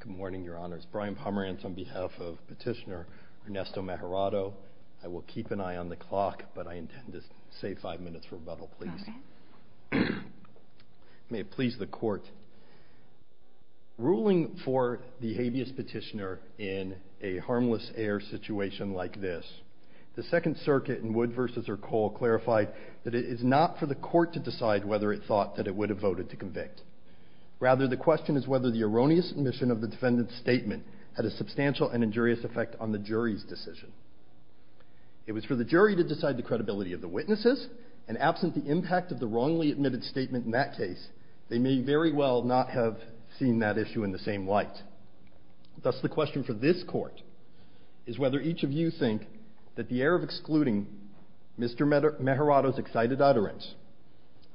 Good morning your honors. Brian Pomerantz on behalf of petitioner Ernesto Mejorado. I will keep an eye on the clock but I intend to say five minutes rebuttal please. May it please the court. Ruling for the habeas petitioner in a harmless heir situation like this, the Second Circuit in Wood v. Ercole clarified that it is not for the court to decide whether it thought that it would have voted to convict. Rather the question is whether the erroneous admission of the defendant's statement had a substantial and injurious effect on the jury's decision. It was for the jury to decide the credibility of the witnesses and absent the impact of the wrongly admitted statement in that case they may very well not have seen that issue in the same light. Thus the question for this court is whether each of you think that the error of excluding Mr. Mejorado's excited utterance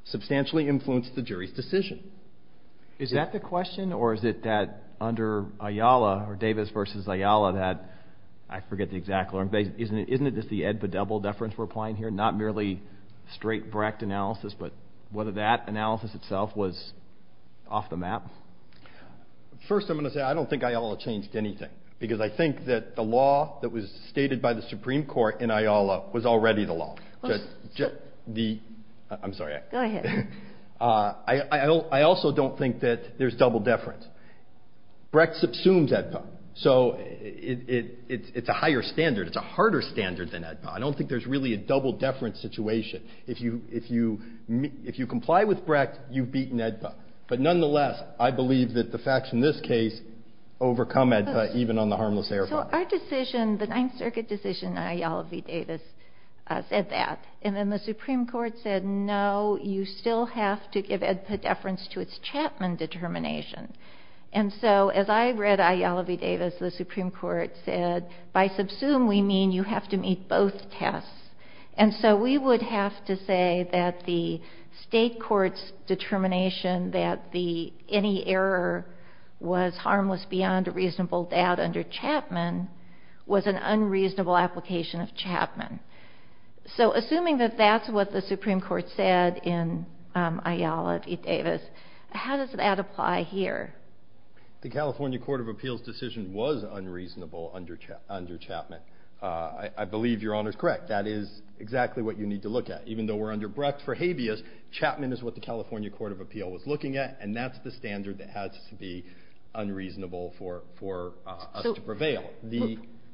substantially influenced the jury's decision. Is that the question or is it that under Ayala or Davis v. Ayala that I forget the exact, isn't it just the ed but double deference we're applying here not merely straight bracked analysis but whether that analysis itself was off the map? First I'm going to say I don't think Ayala changed anything because I think that the law that was stated by the Supreme Court in the case is already the law. I'm sorry. Go ahead. I also don't think that there's double deference. Brecht subsumes EDPA so it's a higher standard, it's a harder standard than EDPA. I don't think there's really a double deference situation. If you comply with Brecht you've beaten EDPA but nonetheless I believe that the facts in this case overcome EDPA even on the basis that the Supreme Court said that. And then the Supreme Court said no, you still have to give EDPA deference to its Chapman determination. And so as I read Ayala v. Davis, the Supreme Court said by subsume we mean you have to meet both tests. And so we would have to say that the state court's determination that any error was harmless beyond a reasonable doubt under unreasonable application of Chapman. So assuming that that's what the Supreme Court said in Ayala v. Davis, how does that apply here? The California Court of Appeals decision was unreasonable under Chapman. I believe your Honor's correct. That is exactly what you need to look at. Even though we're under Brecht for habeas, Chapman is what the California Court of Appeal was looking at and that's the standard that has to be unreasonable for us to prevail.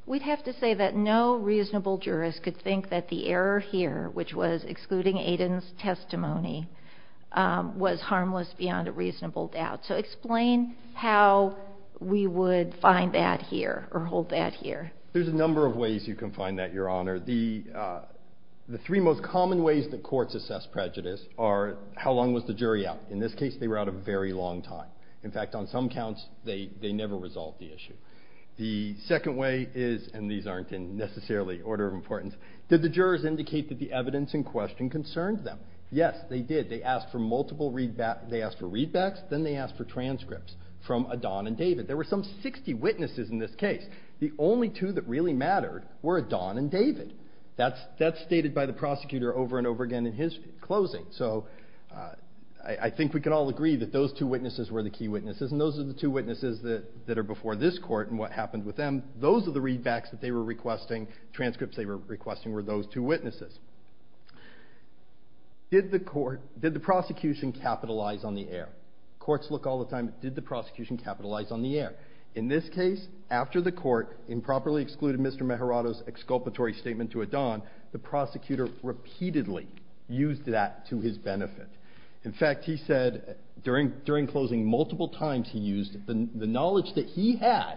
We'd have to say that no reasonable jurist could think that the error here, which was excluding Aiden's testimony, was harmless beyond a reasonable doubt. So explain how we would find that here or hold that here. There's a number of ways you can find that, your Honor. The three most common ways that courts assess prejudice are how long was the jury out. In this case, they were out a very long time. In fact, on some counts, they never resolved the issue. The second way is, and these aren't in necessarily order of importance, did the jurors indicate that the evidence in question concerned them? Yes, they did. They asked for multiple readbacks. They asked for readbacks, then they asked for transcripts from Adon and David. There were some 60 witnesses in this case. The only two that really mattered were Adon and David. That's stated by the prosecutor over and over again in his closing. So I think we can all agree that those two witnesses were the key witnesses and those are the two witnesses that are before this court and what happened with them. Those are the readbacks that they were requesting, transcripts they were requesting were those two witnesses. Did the court, did the prosecution capitalize on the error? Courts look all the time, did the prosecution capitalize on the error? In this case, after the court improperly excluded Mr. Maharado's exculpatory statement to Adon, the prosecutor repeatedly used that to his benefit. In fact, he said during closing, multiple times he used the knowledge that he had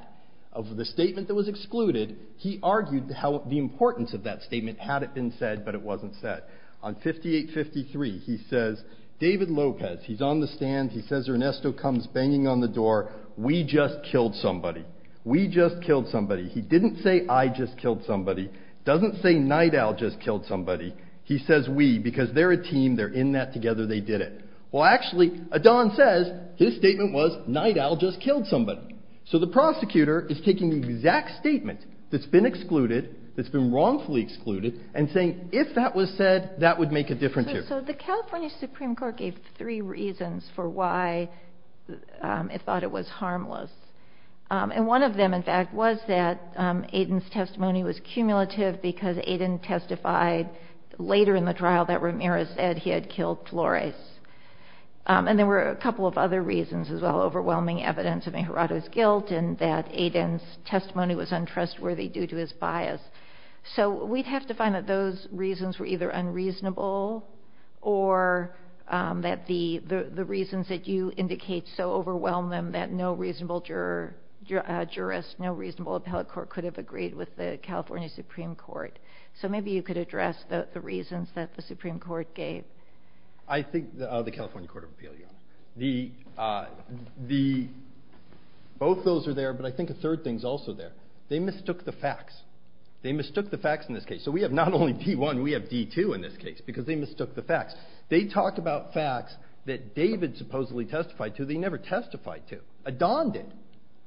of the statement that was excluded, he argued how the importance of that statement had it been said but it wasn't said. On 5853, he says David Lopez, he's on the stand, he says Ernesto comes banging on the door, we just killed somebody. We just killed somebody. He didn't say I just killed somebody. Doesn't say Nidal just killed somebody. He says we because they're a team, they're in that together, they did it. Well actually, Adon says his wife killed somebody. So the prosecutor is taking the exact statement that's been excluded, that's been wrongfully excluded, and saying if that was said, that would make a difference here. So the California Supreme Court gave three reasons for why it thought it was harmless. And one of them in fact was that Adon's testimony was cumulative because Adon testified later in the trial that Ramirez said he had killed Flores. And there were a couple of other reasons as well. Overwhelming evidence of Inhorado's guilt and that Adon's testimony was untrustworthy due to his bias. So we'd have to find that those reasons were either unreasonable or that the the reasons that you indicate so overwhelmed them that no reasonable juror, jurist, no reasonable appellate court could have agreed with the California Supreme Court. So maybe you could address the reasons that the Supreme Court gave. I think the California Supreme Court of Appeals. Both those are there, but I think a third thing's also there. They mistook the facts. They mistook the facts in this case. So we have not only D1, we have D2 in this case because they mistook the facts. They talk about facts that David supposedly testified to, they never testified to. Adon did.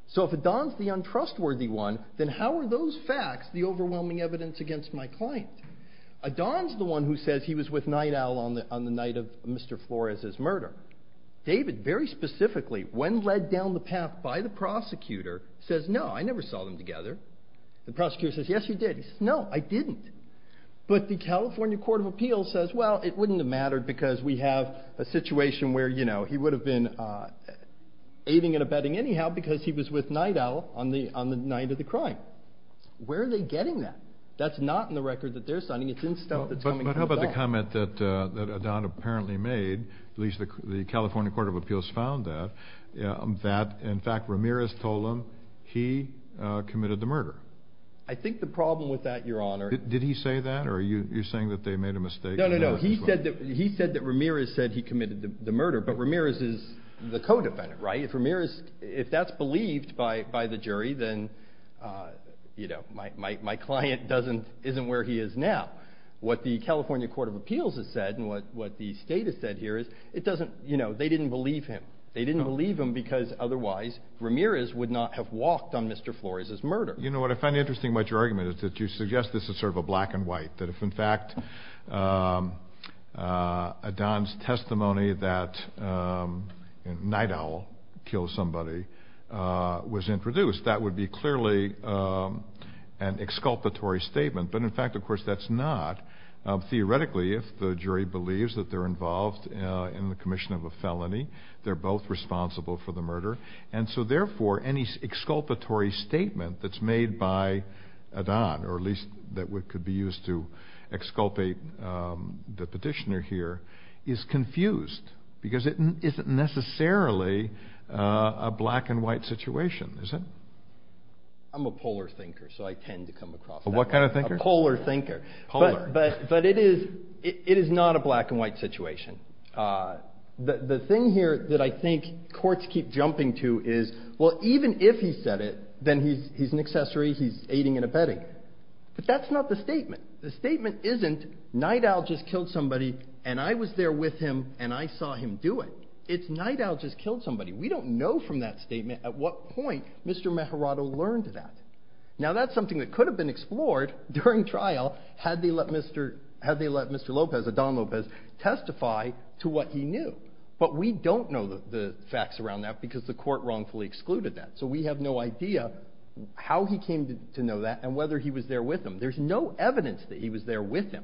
So if Adon's the untrustworthy one, then how are those facts the overwhelming evidence against my client? Adon's the one who says he was with the murder. David, very specifically, when led down the path by the prosecutor, says, no, I never saw them together. The prosecutor says, yes, you did. He says, no, I didn't. But the California Court of Appeals says, well, it wouldn't have mattered because we have a situation where, you know, he would have been aiding and abetting anyhow because he was with Night Owl on the on the night of the crime. Where are they getting that? That's not in the record that they're signing. It's in stuff that's coming from Adon. But how about the comment that Adon apparently made, at least the California Court of Appeals found that, that in fact Ramirez told him he committed the murder? I think the problem with that, Your Honor. Did he say that? Or are you saying that they made a mistake? No, no, no. He said that he said that Ramirez said he committed the murder. But Ramirez is the co-defendant, right? If Ramirez, if that's believed by by the jury, then, you know, my my my client doesn't isn't where he is now. What the state has said here is it doesn't, you know, they didn't believe him. They didn't believe him because otherwise Ramirez would not have walked on Mr. Flores's murder. You know what I find interesting about your argument is that you suggest this is sort of a black and white. That if in fact Adon's testimony that Night Owl killed somebody was introduced, that would be clearly an exculpatory statement. But in fact, of course, that's not. Theoretically, if the are involved in the commission of a felony, they're both responsible for the murder. And so therefore, any exculpatory statement that's made by Adon, or at least that could be used to exculpate the petitioner here, is confused because it isn't necessarily a black and white situation, is it? I'm a polar thinker, so I tend to come across that way. What kind of thinker? A polar thinker. Polar. But it is not a black and white situation. The thing here that I think courts keep jumping to is, well, even if he said it, then he's an accessory, he's aiding and abetting. But that's not the statement. The statement isn't, Night Owl just killed somebody, and I was there with him, and I saw him do it. It's Night Owl just killed somebody. We don't know from that statement at what point Mr. Meherado learned that. Now that's something that could have been explored during trial, had they let Mr. Lopez, Adon Lopez, testify to what he knew. But we don't know the facts around that because the court wrongfully excluded that. So we have no idea how he came to know that and whether he was there with him. There's no evidence that he was there with him.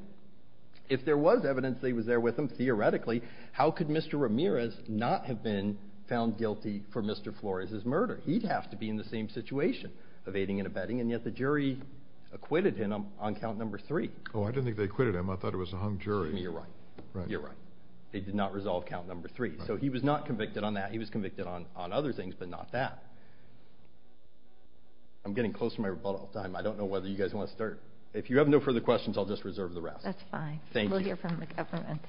If there was evidence that he was there with him, theoretically, how could Mr. Ramirez not have been found guilty for Mr. Flores' murder? He'd have to be in the same situation of aiding and abetting, and yet the jury acquitted him on count number three. Oh, I didn't think they acquitted him. I thought it was a hung jury. I mean, you're right. You're right. They did not resolve count number three. So he was not convicted on that. He was convicted on other things, but not that. I'm getting close to my rebuttal time. I don't know whether you guys wanna start. If you have no further questions, I'll just reserve the rest. That's fine. Thank you. We'll hear from the government.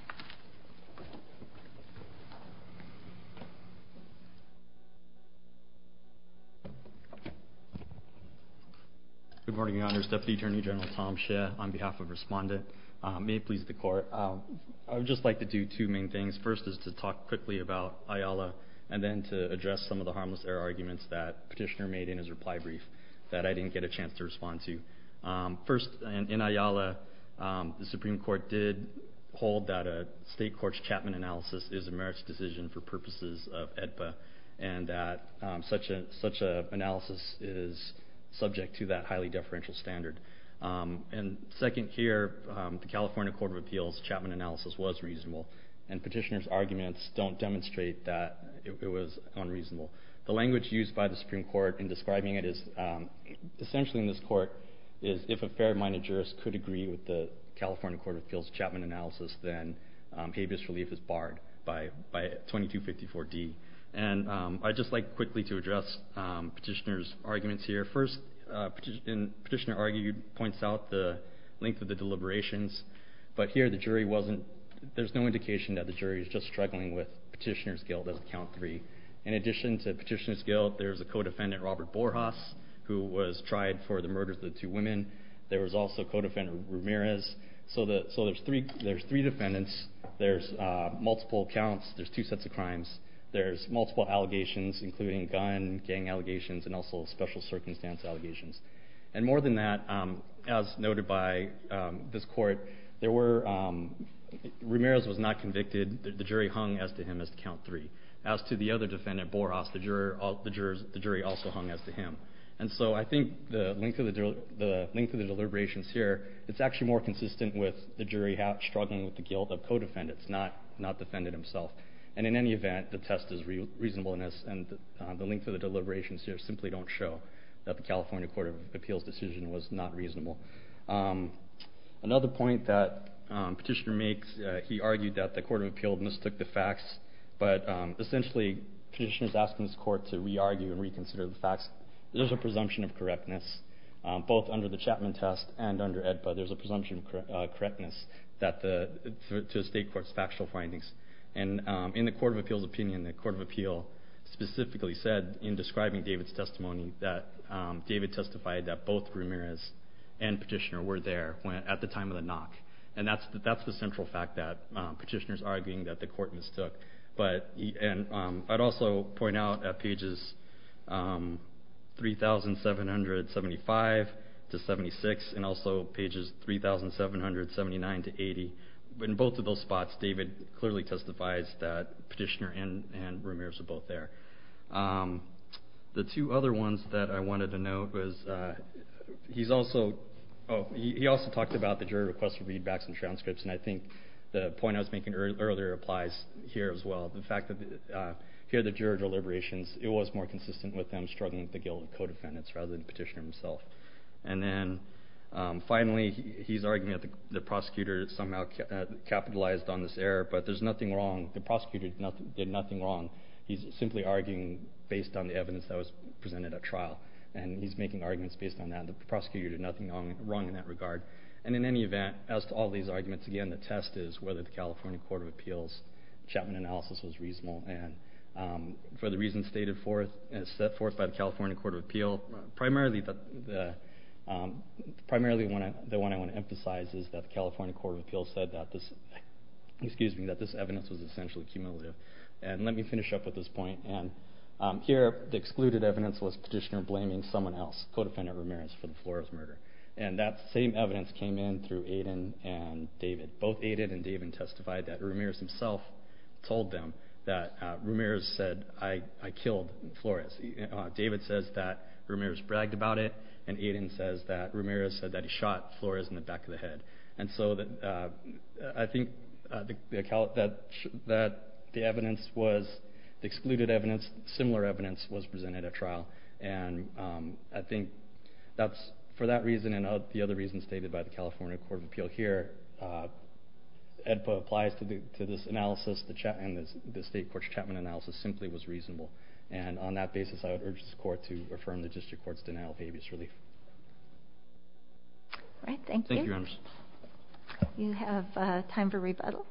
Good morning, Your Honor. Deputy Attorney General Tom Shea on behalf of respondent. May it please the court. I would just like to do two main things. First is to talk quickly about Ayala, and then to address some of the harmless error arguments that Petitioner made in his reply brief that I didn't get a chance to respond to. First, in Ayala, the Supreme Court did hold that a state court's Chapman analysis is a state court's Chapman analysis is subject to that highly deferential standard. And second here, the California Court of Appeals Chapman analysis was reasonable, and Petitioner's arguments don't demonstrate that it was unreasonable. The language used by the Supreme Court in describing it is, essentially in this court, is if a fair minded jurist could agree with the California Court of Appeals Chapman analysis, then habeas relief is barred by 2254D. And I'd just like quickly to address Petitioner's arguments here. First, Petitioner argued, points out the length of the deliberations, but here the jury wasn't... There's no indication that the jury is just struggling with Petitioner's guilt as count three. In addition to Petitioner's guilt, there's a co defendant, Robert Borjas, who was tried for the murders of the two women. There was also co defendant Ramirez. So there's three defendants, there's multiple counts, there's two sets of crimes, there's multiple allegations, including gun, gang allegations, and also special circumstance allegations. And more than that, as noted by this court, there were... Ramirez was not convicted, the jury hung as to him as to count three. As to the other defendant, Borjas, the jury also hung as to him. And so I think the length of the deliberations here, it's actually more consistent with the jury struggling with the guilt of co defendants, not defendant himself. And in any event, the test is reasonableness and the length of the deliberations here simply don't show that the California Court of Appeals decision was not reasonable. Another point that Petitioner makes, he argued that the Court of Appeals mistook the facts, but essentially Petitioner's asking this court to re argue and reconsider the facts. There's a presumption of correctness, both under the Chapman test and under AEDPA, there's a presumption of correctness to the state court's factual findings. And in the Court of Appeals opinion, the Court of Appeal specifically said, in describing David's testimony, that David testified that both Ramirez and Petitioner were there at the time of the knock. And that's the central fact that Petitioner's arguing that the court mistook. But... And I'd also point out at pages 3,775 to 76, and also pages 3,779 to 80, in both of those spots, David clearly testifies that Petitioner and Ramirez were both there. The two other ones that I wanted to note was, he's also... He also talked about the jury request for readbacks and transcripts, and I think the point I was making earlier applies here as well. The fact that here, the juror deliberations, it was more consistent with them struggling with the guilt of co-defendants rather than Petitioner himself. And then, finally, he's arguing that the prosecutor somehow capitalized on this error, but there's nothing wrong. The prosecutor did nothing wrong. He's simply arguing based on the evidence that was presented at trial, and he's making arguments based on that. The prosecutor did nothing wrong in that regard. And in any event, as to all these arguments, again, the test is whether the California Court of Appeals Chapman analysis was reasonable. And for the reasons stated forth and set forth by the California Court of Appeal, primarily, the one I wanna emphasize is that the California Court of Appeals said that this... Excuse me, that this evidence was essentially cumulative. And let me finish up with this point. And here, the excluded evidence was Petitioner blaming someone else, co-defendant Ramirez, for the Flores murder. And that same evidence came in through Aiden and David. Both Aiden and David testified that Ramirez himself told them that Ramirez said, I killed Flores. David says that Ramirez bragged about it, and Aiden says that Ramirez said that he shot Flores in the back of the head. And so, I think that the evidence was... The excluded evidence, similar evidence, was presented at trial. And I think that's... For that reason and the other reasons stated by the California Court of Appeals analysis, the state court's Chapman analysis simply was reasonable. And on that basis, I would urge this court to affirm the district court's denial of habeas relief. Alright, thank you. Thank you, Your Honor. You have time for rebuttal.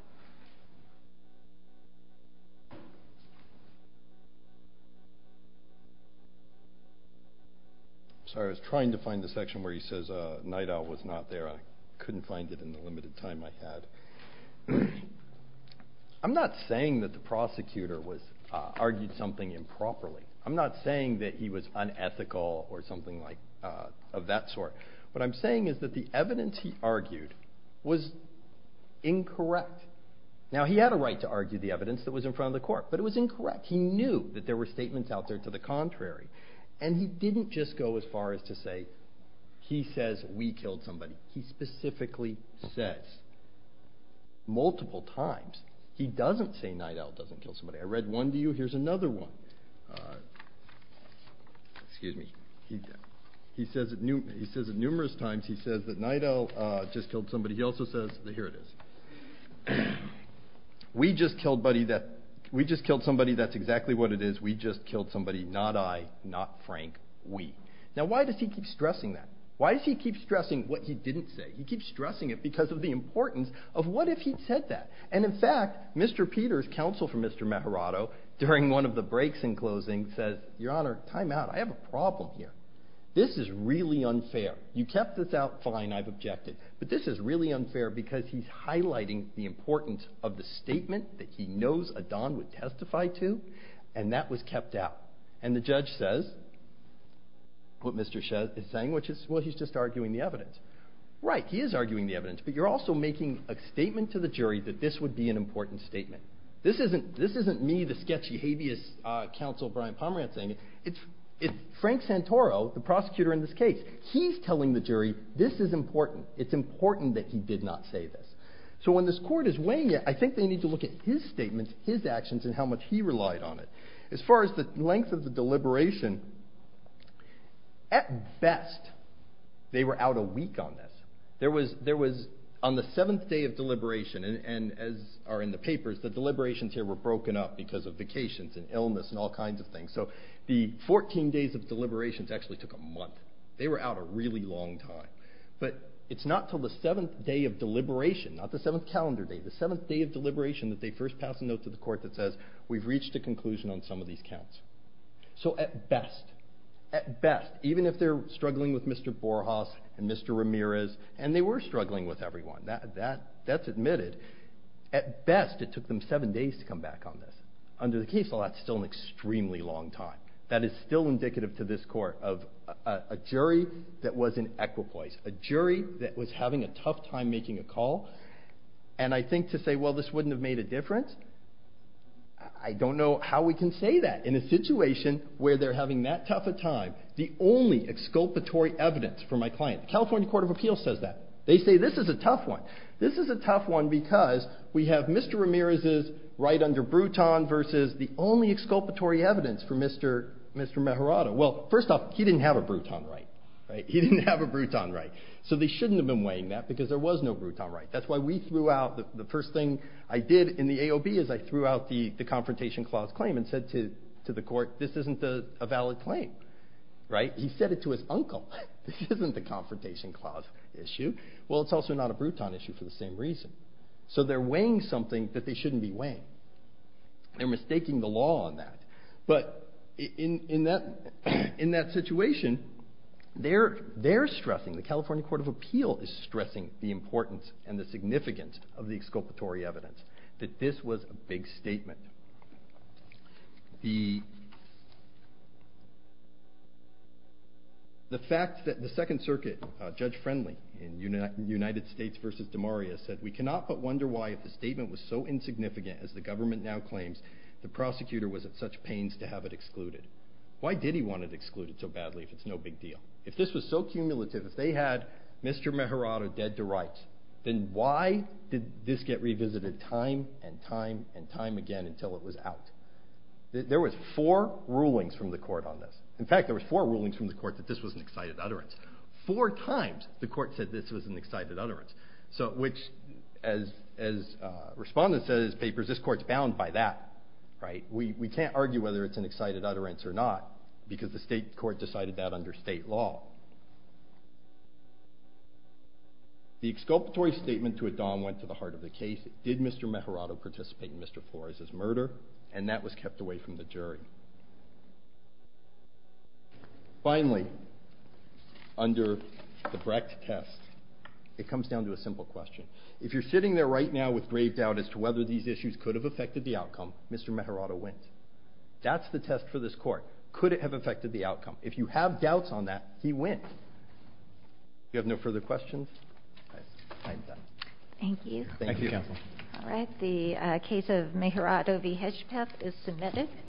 Sorry, I was trying to find the section where he says, Nite Owl was not there. I couldn't find it in the limited time I had. I'm not saying that the prosecutor argued something improperly. I'm not saying that he was unethical or something like... Of that sort. What I'm saying is that the evidence he argued was incorrect. Now, he had a right to argue the evidence that was in front of the court, but it was incorrect. He knew that there were statements out there to the contrary. And he didn't just go as far as to say, he says we killed somebody. He specifically says multiple times, he doesn't say Nite Owl doesn't kill somebody. I read one to you, here's another one. Excuse me. He says it numerous times, he says that Nite Owl just killed somebody. He also says... Here it is. We just killed somebody, that's exactly what it is. We just killed somebody, not I, not Frank, we. Now, why does he keep stressing that? Why does he keep stressing what he didn't say? He keeps stressing it because of the importance of what if he'd said that? And in fact, Mr. Peter's counsel from Mr. Maharado, during one of the breaks in closing, says, Your Honor, time out, I have a problem here. This is really unfair. You kept this out, fine, I've objected. But this is really unfair because he's highlighting the importance of the statement that he knows Adan would testify to, and that was kept out. And the judge says, what Mr. Shah is saying, which is, well, he's just arguing the evidence. Right, he is arguing the evidence, but you're also making a statement to the jury that this would be an important statement. This isn't me, the sketchy, habeas counsel, Brian Pomerantz, saying it. It's Frank Santoro, the prosecutor in this case. He's telling the jury, this is important. It's important that he did not say this. So when this court is looking at his statements, his actions, and how much he relied on it, as far as the length of the deliberation, at best, they were out a week on this. There was, on the seventh day of deliberation, and as are in the papers, the deliberations here were broken up because of vacations and illness and all kinds of things. So the 14 days of deliberations actually took a month. They were out a really long time. But it's not till the seventh day of deliberation, not the seventh calendar day, the seventh day of deliberation that they first pass a note to the court that says, we've reached a conclusion on some of these counts. So at best, at best, even if they're struggling with Mr. Borjas and Mr. Ramirez, and they were struggling with everyone, that's admitted, at best, it took them seven days to come back on this. Under the case law, that's still an extremely long time. That is still indicative to this court of a jury that was in equipoise, a jury that was having a tough time making a call. And I think to say, well, this wouldn't have made a difference, I don't know how we can say that in a situation where they're having that tough a time. The only exculpatory evidence for my client, the California Court of Appeals says that. They say, this is a tough one. This is a tough one because we have Mr. Ramirez's right under Bruton versus the only exculpatory evidence for Mr. Meharada. Well, first off, he didn't have a Bruton right. He didn't have a Bruton right. So they shouldn't have been weighing that because there was no Bruton right. That's why we threw out... The first thing I did in the AOB is I threw out the Confrontation Clause claim and said to the court, this isn't a valid claim, right? He said it to his uncle. This isn't the Confrontation Clause issue. Well, it's also not a Bruton issue for the same reason. So they're weighing something that they shouldn't be weighing. They're mistaking the law on that. But in that situation, they're stressing, the California Court of Appeal is stressing the importance and the significance of the exculpatory evidence, that this was a big statement. The fact that the Second Circuit, Judge Friendly in United States versus DeMaria said, we cannot but wonder why if the statement was so insignificant as the government now claims the prosecutor was at such pains to have it excluded. Why did he want it excluded so badly if it's no big deal? If this was so cumulative, if they had Mr. Meherado dead to rights, then why did this get revisited time and time and time again until it was out? There was four rulings from the court on this. In fact, there was four rulings from the court that this was an excited utterance. Four times, the court said this was an excited utterance. Which, as a respondent said in his papers, this court's bound by that. We can't argue whether it's an excited utterance or not because the state court decided that under state law. The exculpatory statement to Adam went to the heart of the case. Did Mr. Meherado participate in Mr. Flores' murder? And that was kept away from the jury. Finally, under the Brecht test, it comes down to a simple question. If you're sitting there right now with grave doubt as to whether these issues could have affected the outcome, Mr. Meherado went. That's the test for this court. Could it have affected the outcome? If you have doubts on that, he went. If you have no further questions, I'm done. Thank you. Thank you, counsel. Alright, the case of Meherado v. Hedgepeth is submitted.